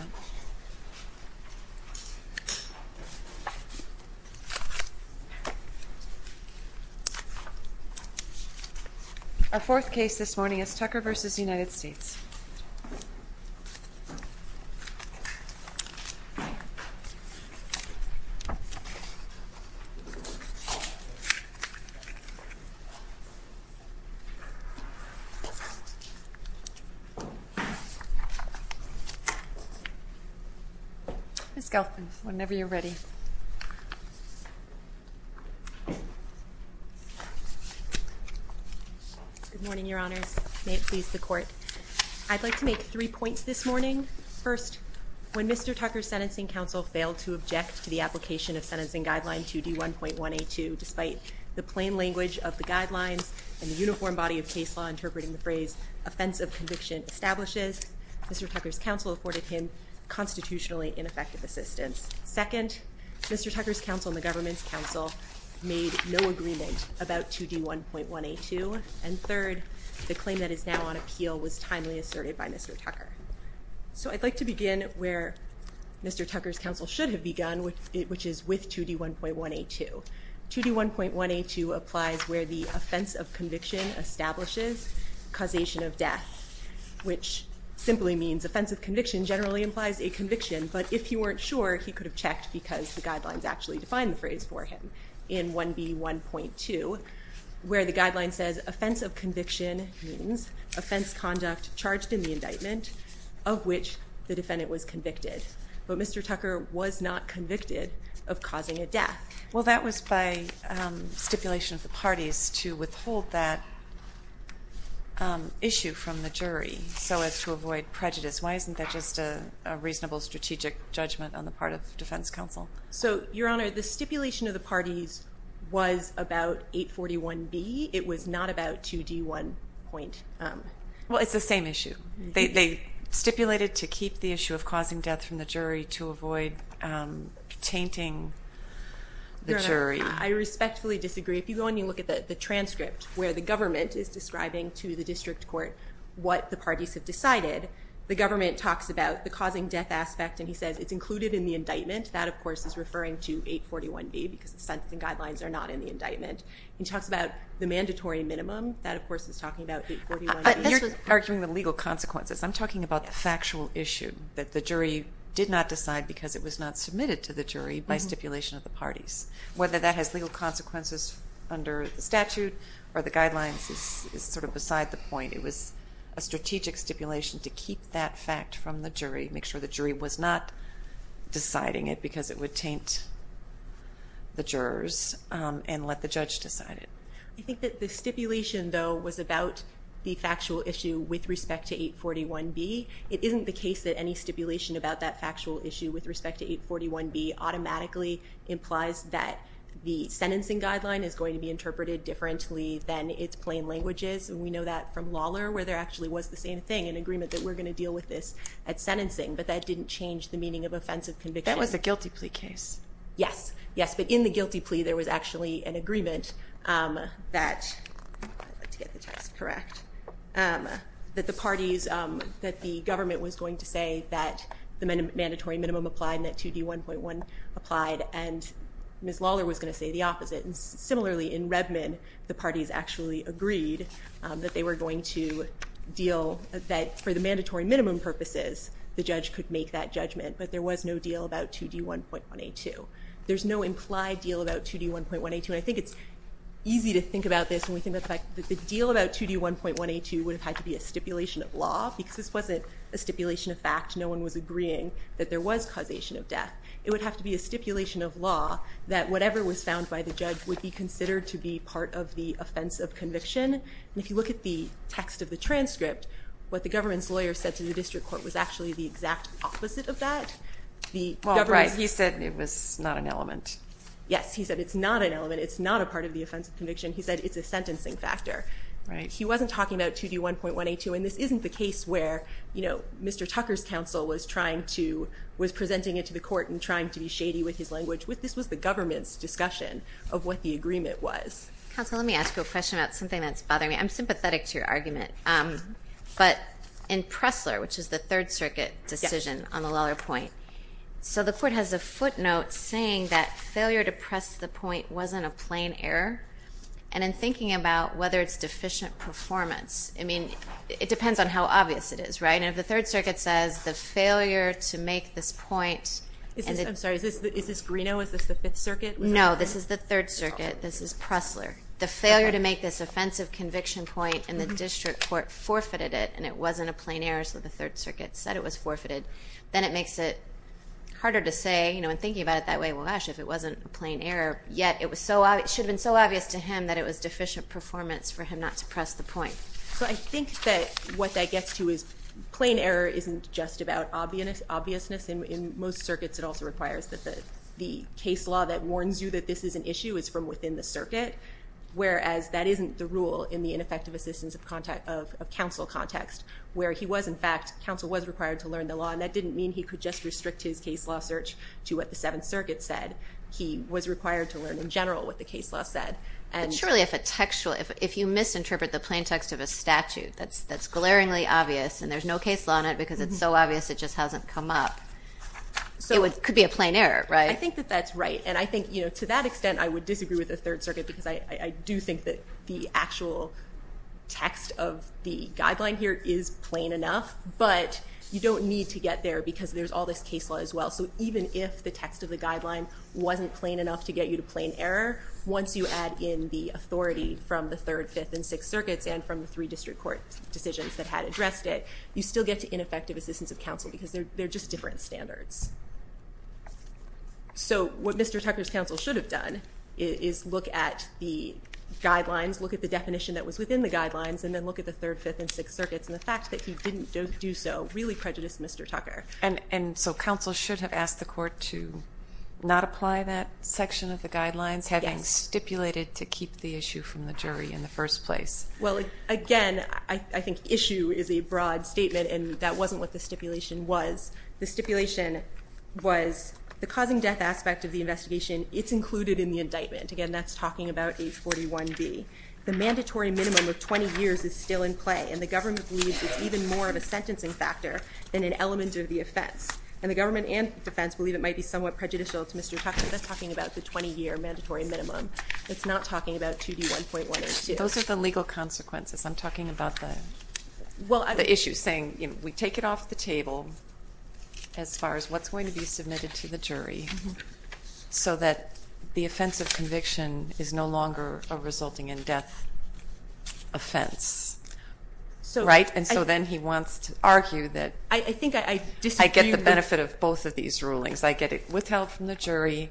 Our fourth case this morning is Tucker v. United States. Ms. Gelfman, whenever you're ready. Good morning, Your Honors. May it please the Court. I'd like to make three points this morning. First, when Mr. Tucker's sentencing counsel failed to object to the application of Sentencing Guideline 2D1.182, despite the plain language of the guidelines and the uniform body of case law interpreting the phrase Offense of Conviction Establishes, Mr. Tucker's counsel afforded him constitutionally ineffective assistance. Second, Mr. Tucker's counsel and the government's counsel made no agreement about 2D1.182. And third, the claim that is now on appeal was timely asserted by Mr. Tucker. So I'd like to begin where Mr. Tucker's counsel should have begun, which is with 2D1.182. 2D1.182 applies where the Offense of Conviction Establishes Causation of Death, which simply means Offense of Conviction generally implies a conviction. But if you weren't sure, he could have checked because the guidelines actually define the phrase for him in 1B1.2, where the guideline says Offense of Conviction means offense conduct charged in the indictment of which the defendant was convicted. But Mr. Tucker was not convicted of causing a death. Well, that was by stipulation of the parties to withhold that issue from the jury so as to avoid prejudice. Why isn't that just a reasonable strategic judgment on the part of defense counsel? So, Your Honor, the stipulation of the parties was about 841B. It was not about 2D1. Well, it's the same issue. They stipulated to keep the issue of causing death from the jury to avoid tainting the jury. Your Honor, I respectfully disagree. If you go and you look at the transcript where the government is describing to the district court what the parties have decided, the government talks about the causing death aspect, and he says it's included in the indictment. That, of course, is referring to 841B because the sentencing guidelines are not in the indictment. He talks about the mandatory minimum. That, of course, is talking about 841B. But you're arguing the legal consequences. I'm talking about the factual issue that the jury did not decide because it was not submitted to the jury by stipulation of the parties. Whether that has legal consequences under the statute or the guidelines is sort of beside the point. It was a strategic stipulation to keep that fact from the jury, make sure the jury was not deciding it because it would taint the jurors, and let the judge decide it. I think that the stipulation, though, was about the factual issue with respect to 841B. It isn't the case that any stipulation about that factual issue with respect to 841B automatically implies that the sentencing guideline is going to be interpreted differently than its plain languages. And we know that from Lawler where there actually was the same thing, an agreement that we're going to deal with this at sentencing. But that didn't change the meaning of offensive conviction. That was a guilty plea case. Yes, yes. But in the guilty plea, there was actually an agreement that the parties, that the government was going to say that the mandatory minimum applied and that 2D1.1 applied, and Ms. Lawler was going to say the opposite. And similarly, in Redmond, the parties actually agreed that they were going to deal, that for the mandatory minimum purposes, the judge could make that judgment, but there was no deal about 2D1.182. There's no implied deal about 2D1.182. And I think it's easy to think about this when we think about the fact that the deal about 2D1.182 would have had to be a stipulation of law because this wasn't a stipulation of fact. No one was agreeing that there was causation of death. It would have to be a stipulation of law that whatever was found by the judge would be considered to be part of the offense of conviction. And if you look at the text of the transcript, what the government's lawyer said to the district court was actually the exact opposite of that. He said it was not an element. Yes, he said it's not an element. It's not a part of the offense of conviction. He said it's a sentencing factor. He wasn't talking about 2D1.182, and this isn't the case where Mr. Tucker's counsel was presenting it to the court and trying to be shady with his language. This was the government's discussion of what the agreement was. Counsel, let me ask you a question about something that's bothering me. I'm sympathetic to your argument, but in Pressler, which is the Third Circuit decision on the Lawler point, so the court has a footnote saying that failure to press the point wasn't a plain error, and in thinking about whether it's deficient performance, I mean it depends on how obvious it is, right? And if the Third Circuit says the failure to make this point I'm sorry, is this Greeno? Is this the Fifth Circuit? No, this is the Third Circuit. This is Pressler. The failure to make this offense of conviction point in the district court forfeited it, and it wasn't a plain error, so the Third Circuit said it was forfeited. Then it makes it harder to say, you know, in thinking about it that way, well, gosh, if it wasn't a plain error, yet it should have been so obvious to him that it was deficient performance for him not to press the point. So I think that what that gets to is plain error isn't just about obviousness. In most circuits it also requires that the case law that warns you that this is an issue is from within the circuit, whereas that isn't the rule in the ineffective assistance of counsel context where he was, in fact, counsel was required to learn the law, and that didn't mean he could just restrict his case law search to what the Seventh Circuit said. He was required to learn in general what the case law said. But surely if you misinterpret the plain text of a statute that's glaringly obvious and there's no case law in it because it's so obvious it just hasn't come up, it could be a plain error, right? Again, I would disagree with the Third Circuit because I do think that the actual text of the guideline here is plain enough, but you don't need to get there because there's all this case law as well. So even if the text of the guideline wasn't plain enough to get you to plain error, once you add in the authority from the Third, Fifth, and Sixth Circuits and from the three district court decisions that had addressed it, you still get to ineffective assistance of counsel because they're just different standards. So what Mr. Tucker's counsel should have done is look at the guidelines, look at the definition that was within the guidelines, and then look at the Third, Fifth, and Sixth Circuits, and the fact that he didn't do so really prejudiced Mr. Tucker. And so counsel should have asked the court to not apply that section of the guidelines, having stipulated to keep the issue from the jury in the first place. Well, again, I think issue is a broad statement, and that wasn't what the stipulation was. The stipulation was the causing death aspect of the investigation. It's included in the indictment. Again, that's talking about H41B. The mandatory minimum of 20 years is still in play, and the government believes it's even more of a sentencing factor than an element of the offense. And the government and defense believe it might be somewhat prejudicial to Mr. Tucker. That's talking about the 20-year mandatory minimum. It's not talking about 2D1.1 or 2. Those are the legal consequences. I'm talking about the issue, saying we take it off the table as far as what's going to be submitted to the jury so that the offense of conviction is no longer a resulting in death offense. Right? And so then he wants to argue that I get the benefit of both of these rulings. I get it withheld from the jury,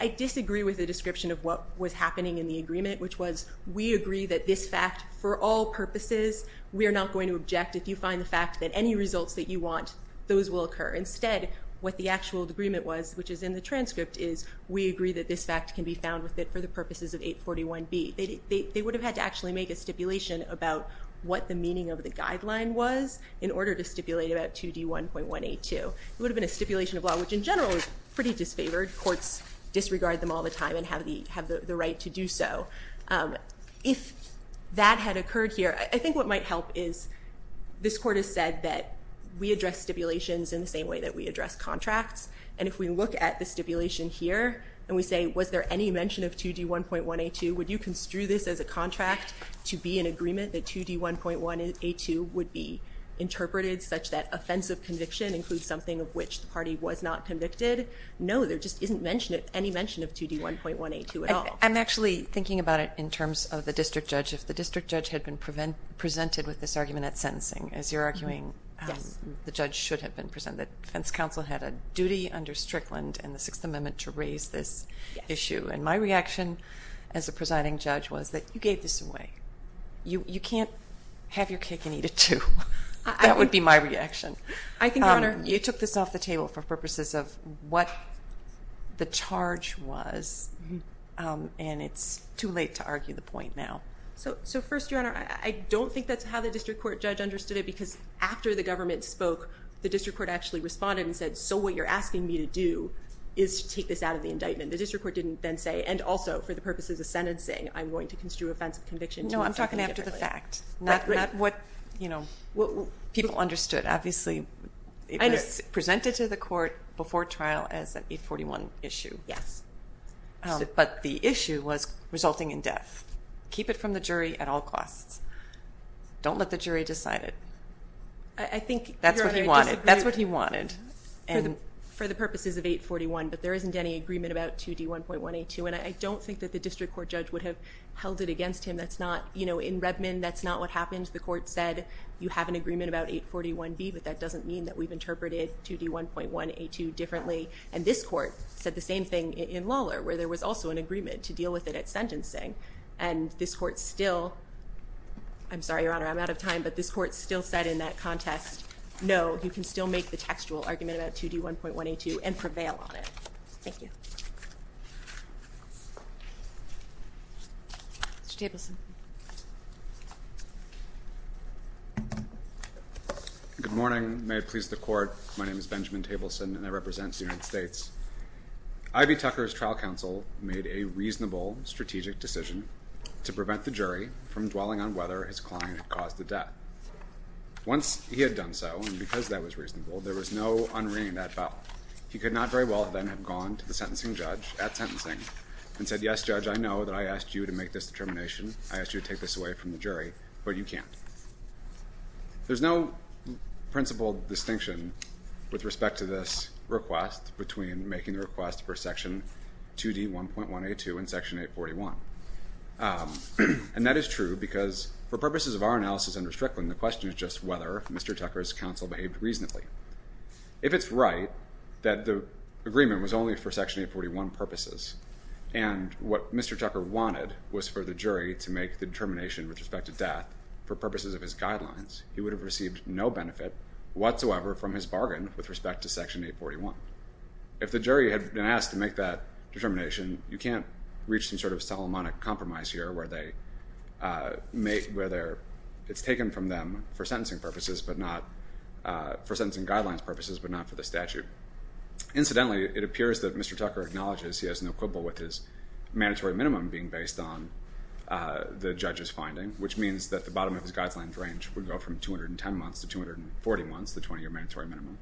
I disagree with the description of what was happening in the agreement, which was we agree that this fact, for all purposes, we are not going to object. If you find the fact that any results that you want, those will occur. Instead, what the actual agreement was, which is in the transcript, is we agree that this fact can be found with it for the purposes of H41B. They would have had to actually make a stipulation about what the meaning of the guideline was in order to stipulate about 2D1.1A2. It would have been a stipulation of law, which in general is pretty disfavored. Courts disregard them all the time and have the right to do so. If that had occurred here, I think what might help is this court has said that we address stipulations in the same way that we address contracts. And if we look at the stipulation here and we say, was there any mention of 2D1.1A2, would you construe this as a contract to be an agreement that 2D1.1A2 would be interpreted such that an offensive conviction includes something of which the party was not convicted? No, there just isn't any mention of 2D1.1A2 at all. I'm actually thinking about it in terms of the district judge. If the district judge had been presented with this argument at sentencing, as you're arguing the judge should have been presented, defense counsel had a duty under Strickland and the Sixth Amendment to raise this issue. And my reaction as a presiding judge was that you gave this away. You can't have your cake and eat it too. That would be my reaction. You took this off the table for purposes of what the charge was, and it's too late to argue the point now. So first, Your Honor, I don't think that's how the district court judge understood it because after the government spoke, the district court actually responded and said, so what you're asking me to do is to take this out of the indictment. The district court didn't then say, and also for the purposes of sentencing, I'm going to construe offensive conviction. No, I'm talking after the fact. Not what people understood. Obviously it was presented to the court before trial as an 841 issue. Yes. But the issue was resulting in death. Keep it from the jury at all costs. Don't let the jury decide it. I think, Your Honor, I disagree. That's what he wanted. For the purposes of 841, but there isn't any agreement about 2D1.182, and I don't think that the district court judge would have held it against him. In Redmond, that's not what happened. The court said, you have an agreement about 841B, but that doesn't mean that we've interpreted 2D1.182 differently. And this court said the same thing in Lawlor, where there was also an agreement to deal with it at sentencing. And this court still – I'm sorry, Your Honor, I'm out of time – but this court still said in that contest, no, you can still make the textual argument about 2D1.182 and prevail on it. Thank you. Mr. Tableson. Good morning. May it please the court, my name is Benjamin Tableson, and I represent the United States. I.B. Tucker's trial counsel made a reasonable strategic decision to prevent the jury from dwelling on whether his client had caused the death. Once he had done so, and because that was reasonable, there was no unringing that bell. He could not very well then have gone to the sentencing judge at sentencing and said, yes, judge, I know that I asked you to make this determination, I asked you to take this away from the jury, but you can't. There's no principled distinction with respect to this request between making the request for Section 2D1.182 and Section 841. And that is true because for purposes of our analysis under Strickland, the question is just whether Mr. Tucker's counsel behaved reasonably. If it's right that the agreement was only for Section 841 purposes and what Mr. Tucker wanted was for the jury to make the determination with respect to death for purposes of his guidelines, he would have received no benefit whatsoever from his bargain with respect to Section 841. If the jury had been asked to make that determination, you can't reach some sort of telemonic compromise here where it's taken from them for sentencing purposes but not for the statute. Incidentally, it appears that Mr. Tucker acknowledges he has no quibble with his mandatory minimum being based on the judge's finding, which means that the bottom of his guidelines range would go from 210 months to 240 months, the 20-year mandatory minimum.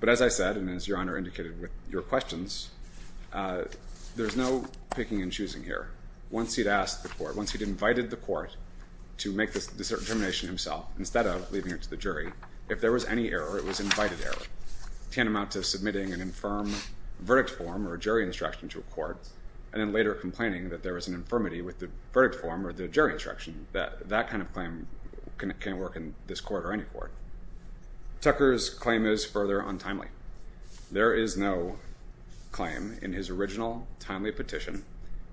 But as I said, and as Your Honor indicated with your questions, there's no picking and choosing here. Once he'd asked the court, once he'd invited the court to make this determination himself instead of leaving it to the jury, if there was any error, it was invited error, tantamount to submitting an infirm verdict form or a jury instruction to a court and then later complaining that there was an infirmity with the verdict form or the jury instruction. That kind of claim can't work in this court or any court. Tucker's claim is further untimely. There is no claim in his original timely petition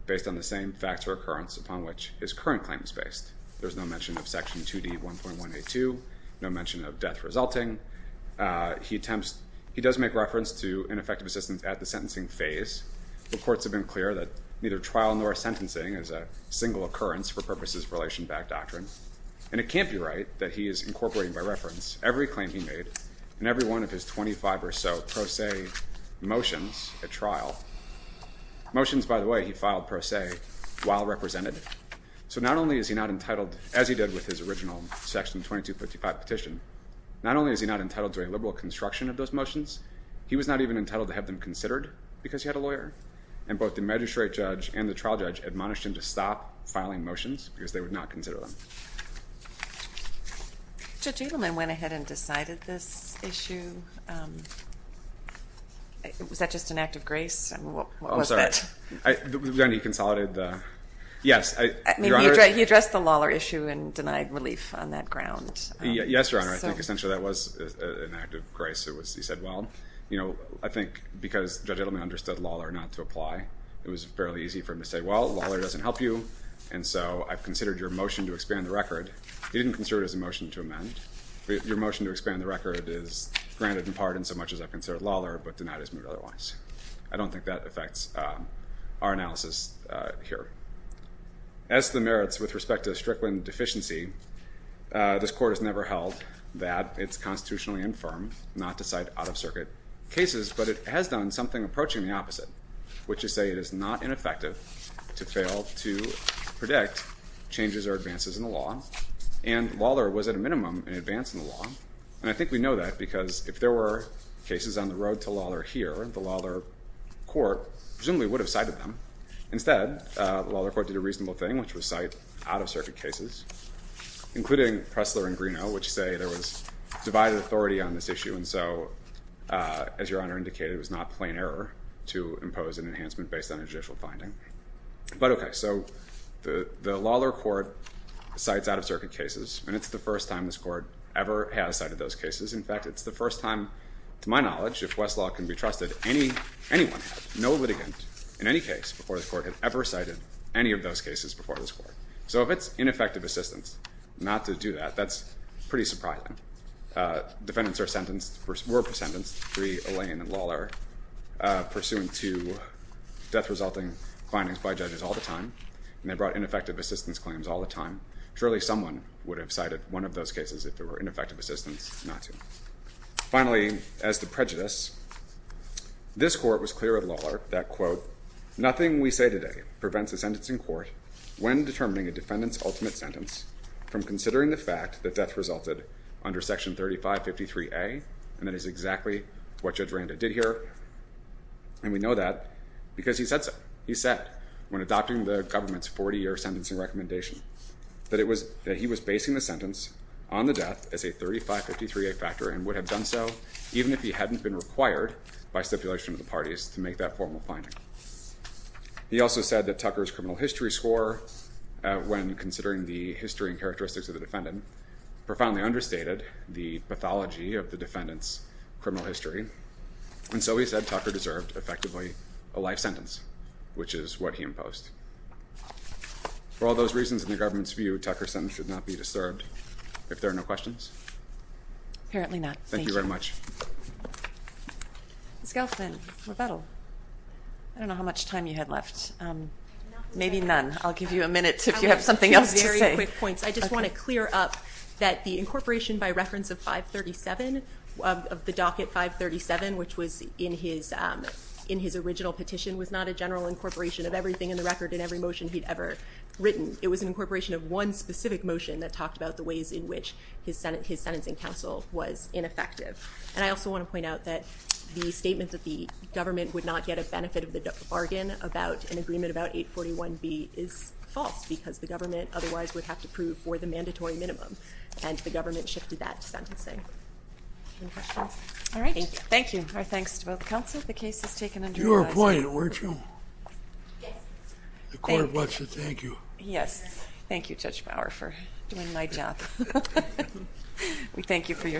based on the same facts or occurrence upon which his current claim is based. There's no mention of Section 2D 1.182, no mention of death resulting. He does make reference to ineffective assistance at the sentencing phase. The courts have been clear that neither trial nor sentencing is a single occurrence for purposes of relation-backed doctrine. And it can't be right that he is incorporating by reference every claim he made and every one of his 25 or so pro se motions at trial. Motions, by the way, he filed pro se while represented. So not only is he not entitled, as he did with his original Section 2255 petition, not only is he not entitled to a liberal construction of those motions, he was not even entitled to have them considered because he had a lawyer. And both the magistrate judge and the trial judge admonished him to stop filing motions because they would not consider them. Judge Edelman went ahead and decided this issue. Was that just an act of grace? I'm sorry. He consolidated the... He addressed the Lawler issue and denied relief on that ground. Yes, Your Honor. I think essentially that was an act of grace. He said, well, I think because Judge Edelman understood Lawler not to apply, it was fairly easy for him to say, well, Lawler doesn't help you, and so I've considered your motion to expand the record. He didn't consider it as a motion to amend. Your motion to expand the record is granted in part in so much as I've considered Lawler, but denied his move otherwise. I don't think that affects our analysis here. As to the merits with respect to Strickland deficiency, this Court has never held that it's constitutionally infirm not to cite out-of-circuit cases, but it has done something approaching the opposite, which is say it is not ineffective to fail to predict changes or advances in the law, and Lawler was at a minimum an advance in the law, and I think we know that because if there were cases on the road to Lawler here, the Lawler Court presumably would have cited them. Instead, the Lawler Court did a reasonable thing, which was cite out-of-circuit cases, including Pressler and Greenough, which say there was divided authority on this issue, and so, as Your Honor indicated, it was not plain error to impose an enhancement based on a judicial finding. But okay, so the Lawler Court cites out-of-circuit cases, and it's the first time this Court ever has cited those cases. In fact, it's the first time, to my knowledge, if Westlaw can be trusted, anyone has. No litigant in any case before this Court had ever cited any of those cases before this Court. So if it's ineffective assistance not to do that, that's pretty surprising. Defendants are sentenced, were sentenced, pursuant to death-resulting findings by judges all the time, and they brought ineffective assistance claims all the time. Surely someone would have cited one of those cases if there were ineffective assistance not to. Finally, as to prejudice, this Court was clear at Lawler that, quote, And we know that because he said so. He said, when adopting the government's 40-year sentencing recommendation, that he was basing the sentence on the death as a 3553A factor and would have done so even if he hadn't been required by stipulation of the parties to make that formal finding. He also said that Tucker's criminal history score, when considering the history and characteristics of the defendant, profoundly understated the pathology of the defendant's criminal history, and so he said Tucker deserved, effectively, a life sentence, which is what he imposed. For all those reasons, in the government's view, Tucker's sentence should not be disturbed. If there are no questions? Apparently not. Thank you. Thank you very much. Ms. Gelfman, I don't know how much time you had left. Maybe none. I'll give you a minute if you have something else to say. I just want to clear up that the incorporation by reference of 537 of the docket 537, which was in his original petition, was not a general incorporation of everything in the record and every motion he'd ever written. It was an incorporation of one specific motion that talked about the ways in which his sentencing counsel was ineffective. And I also want to point out that the statement that the government would not get a benefit of the bargain about an agreement about 841B is false because the government otherwise would have to prove for the mandatory minimum, and the government shifted that to sentencing. Any questions? All right. Thank you. Thank you. Our thanks to both counsel. The case is taken under the law. You were appointed, weren't you? Yes. The court wants to thank you. Yes. Thank you, Judge Bauer, for doing my job. We thank you for your service.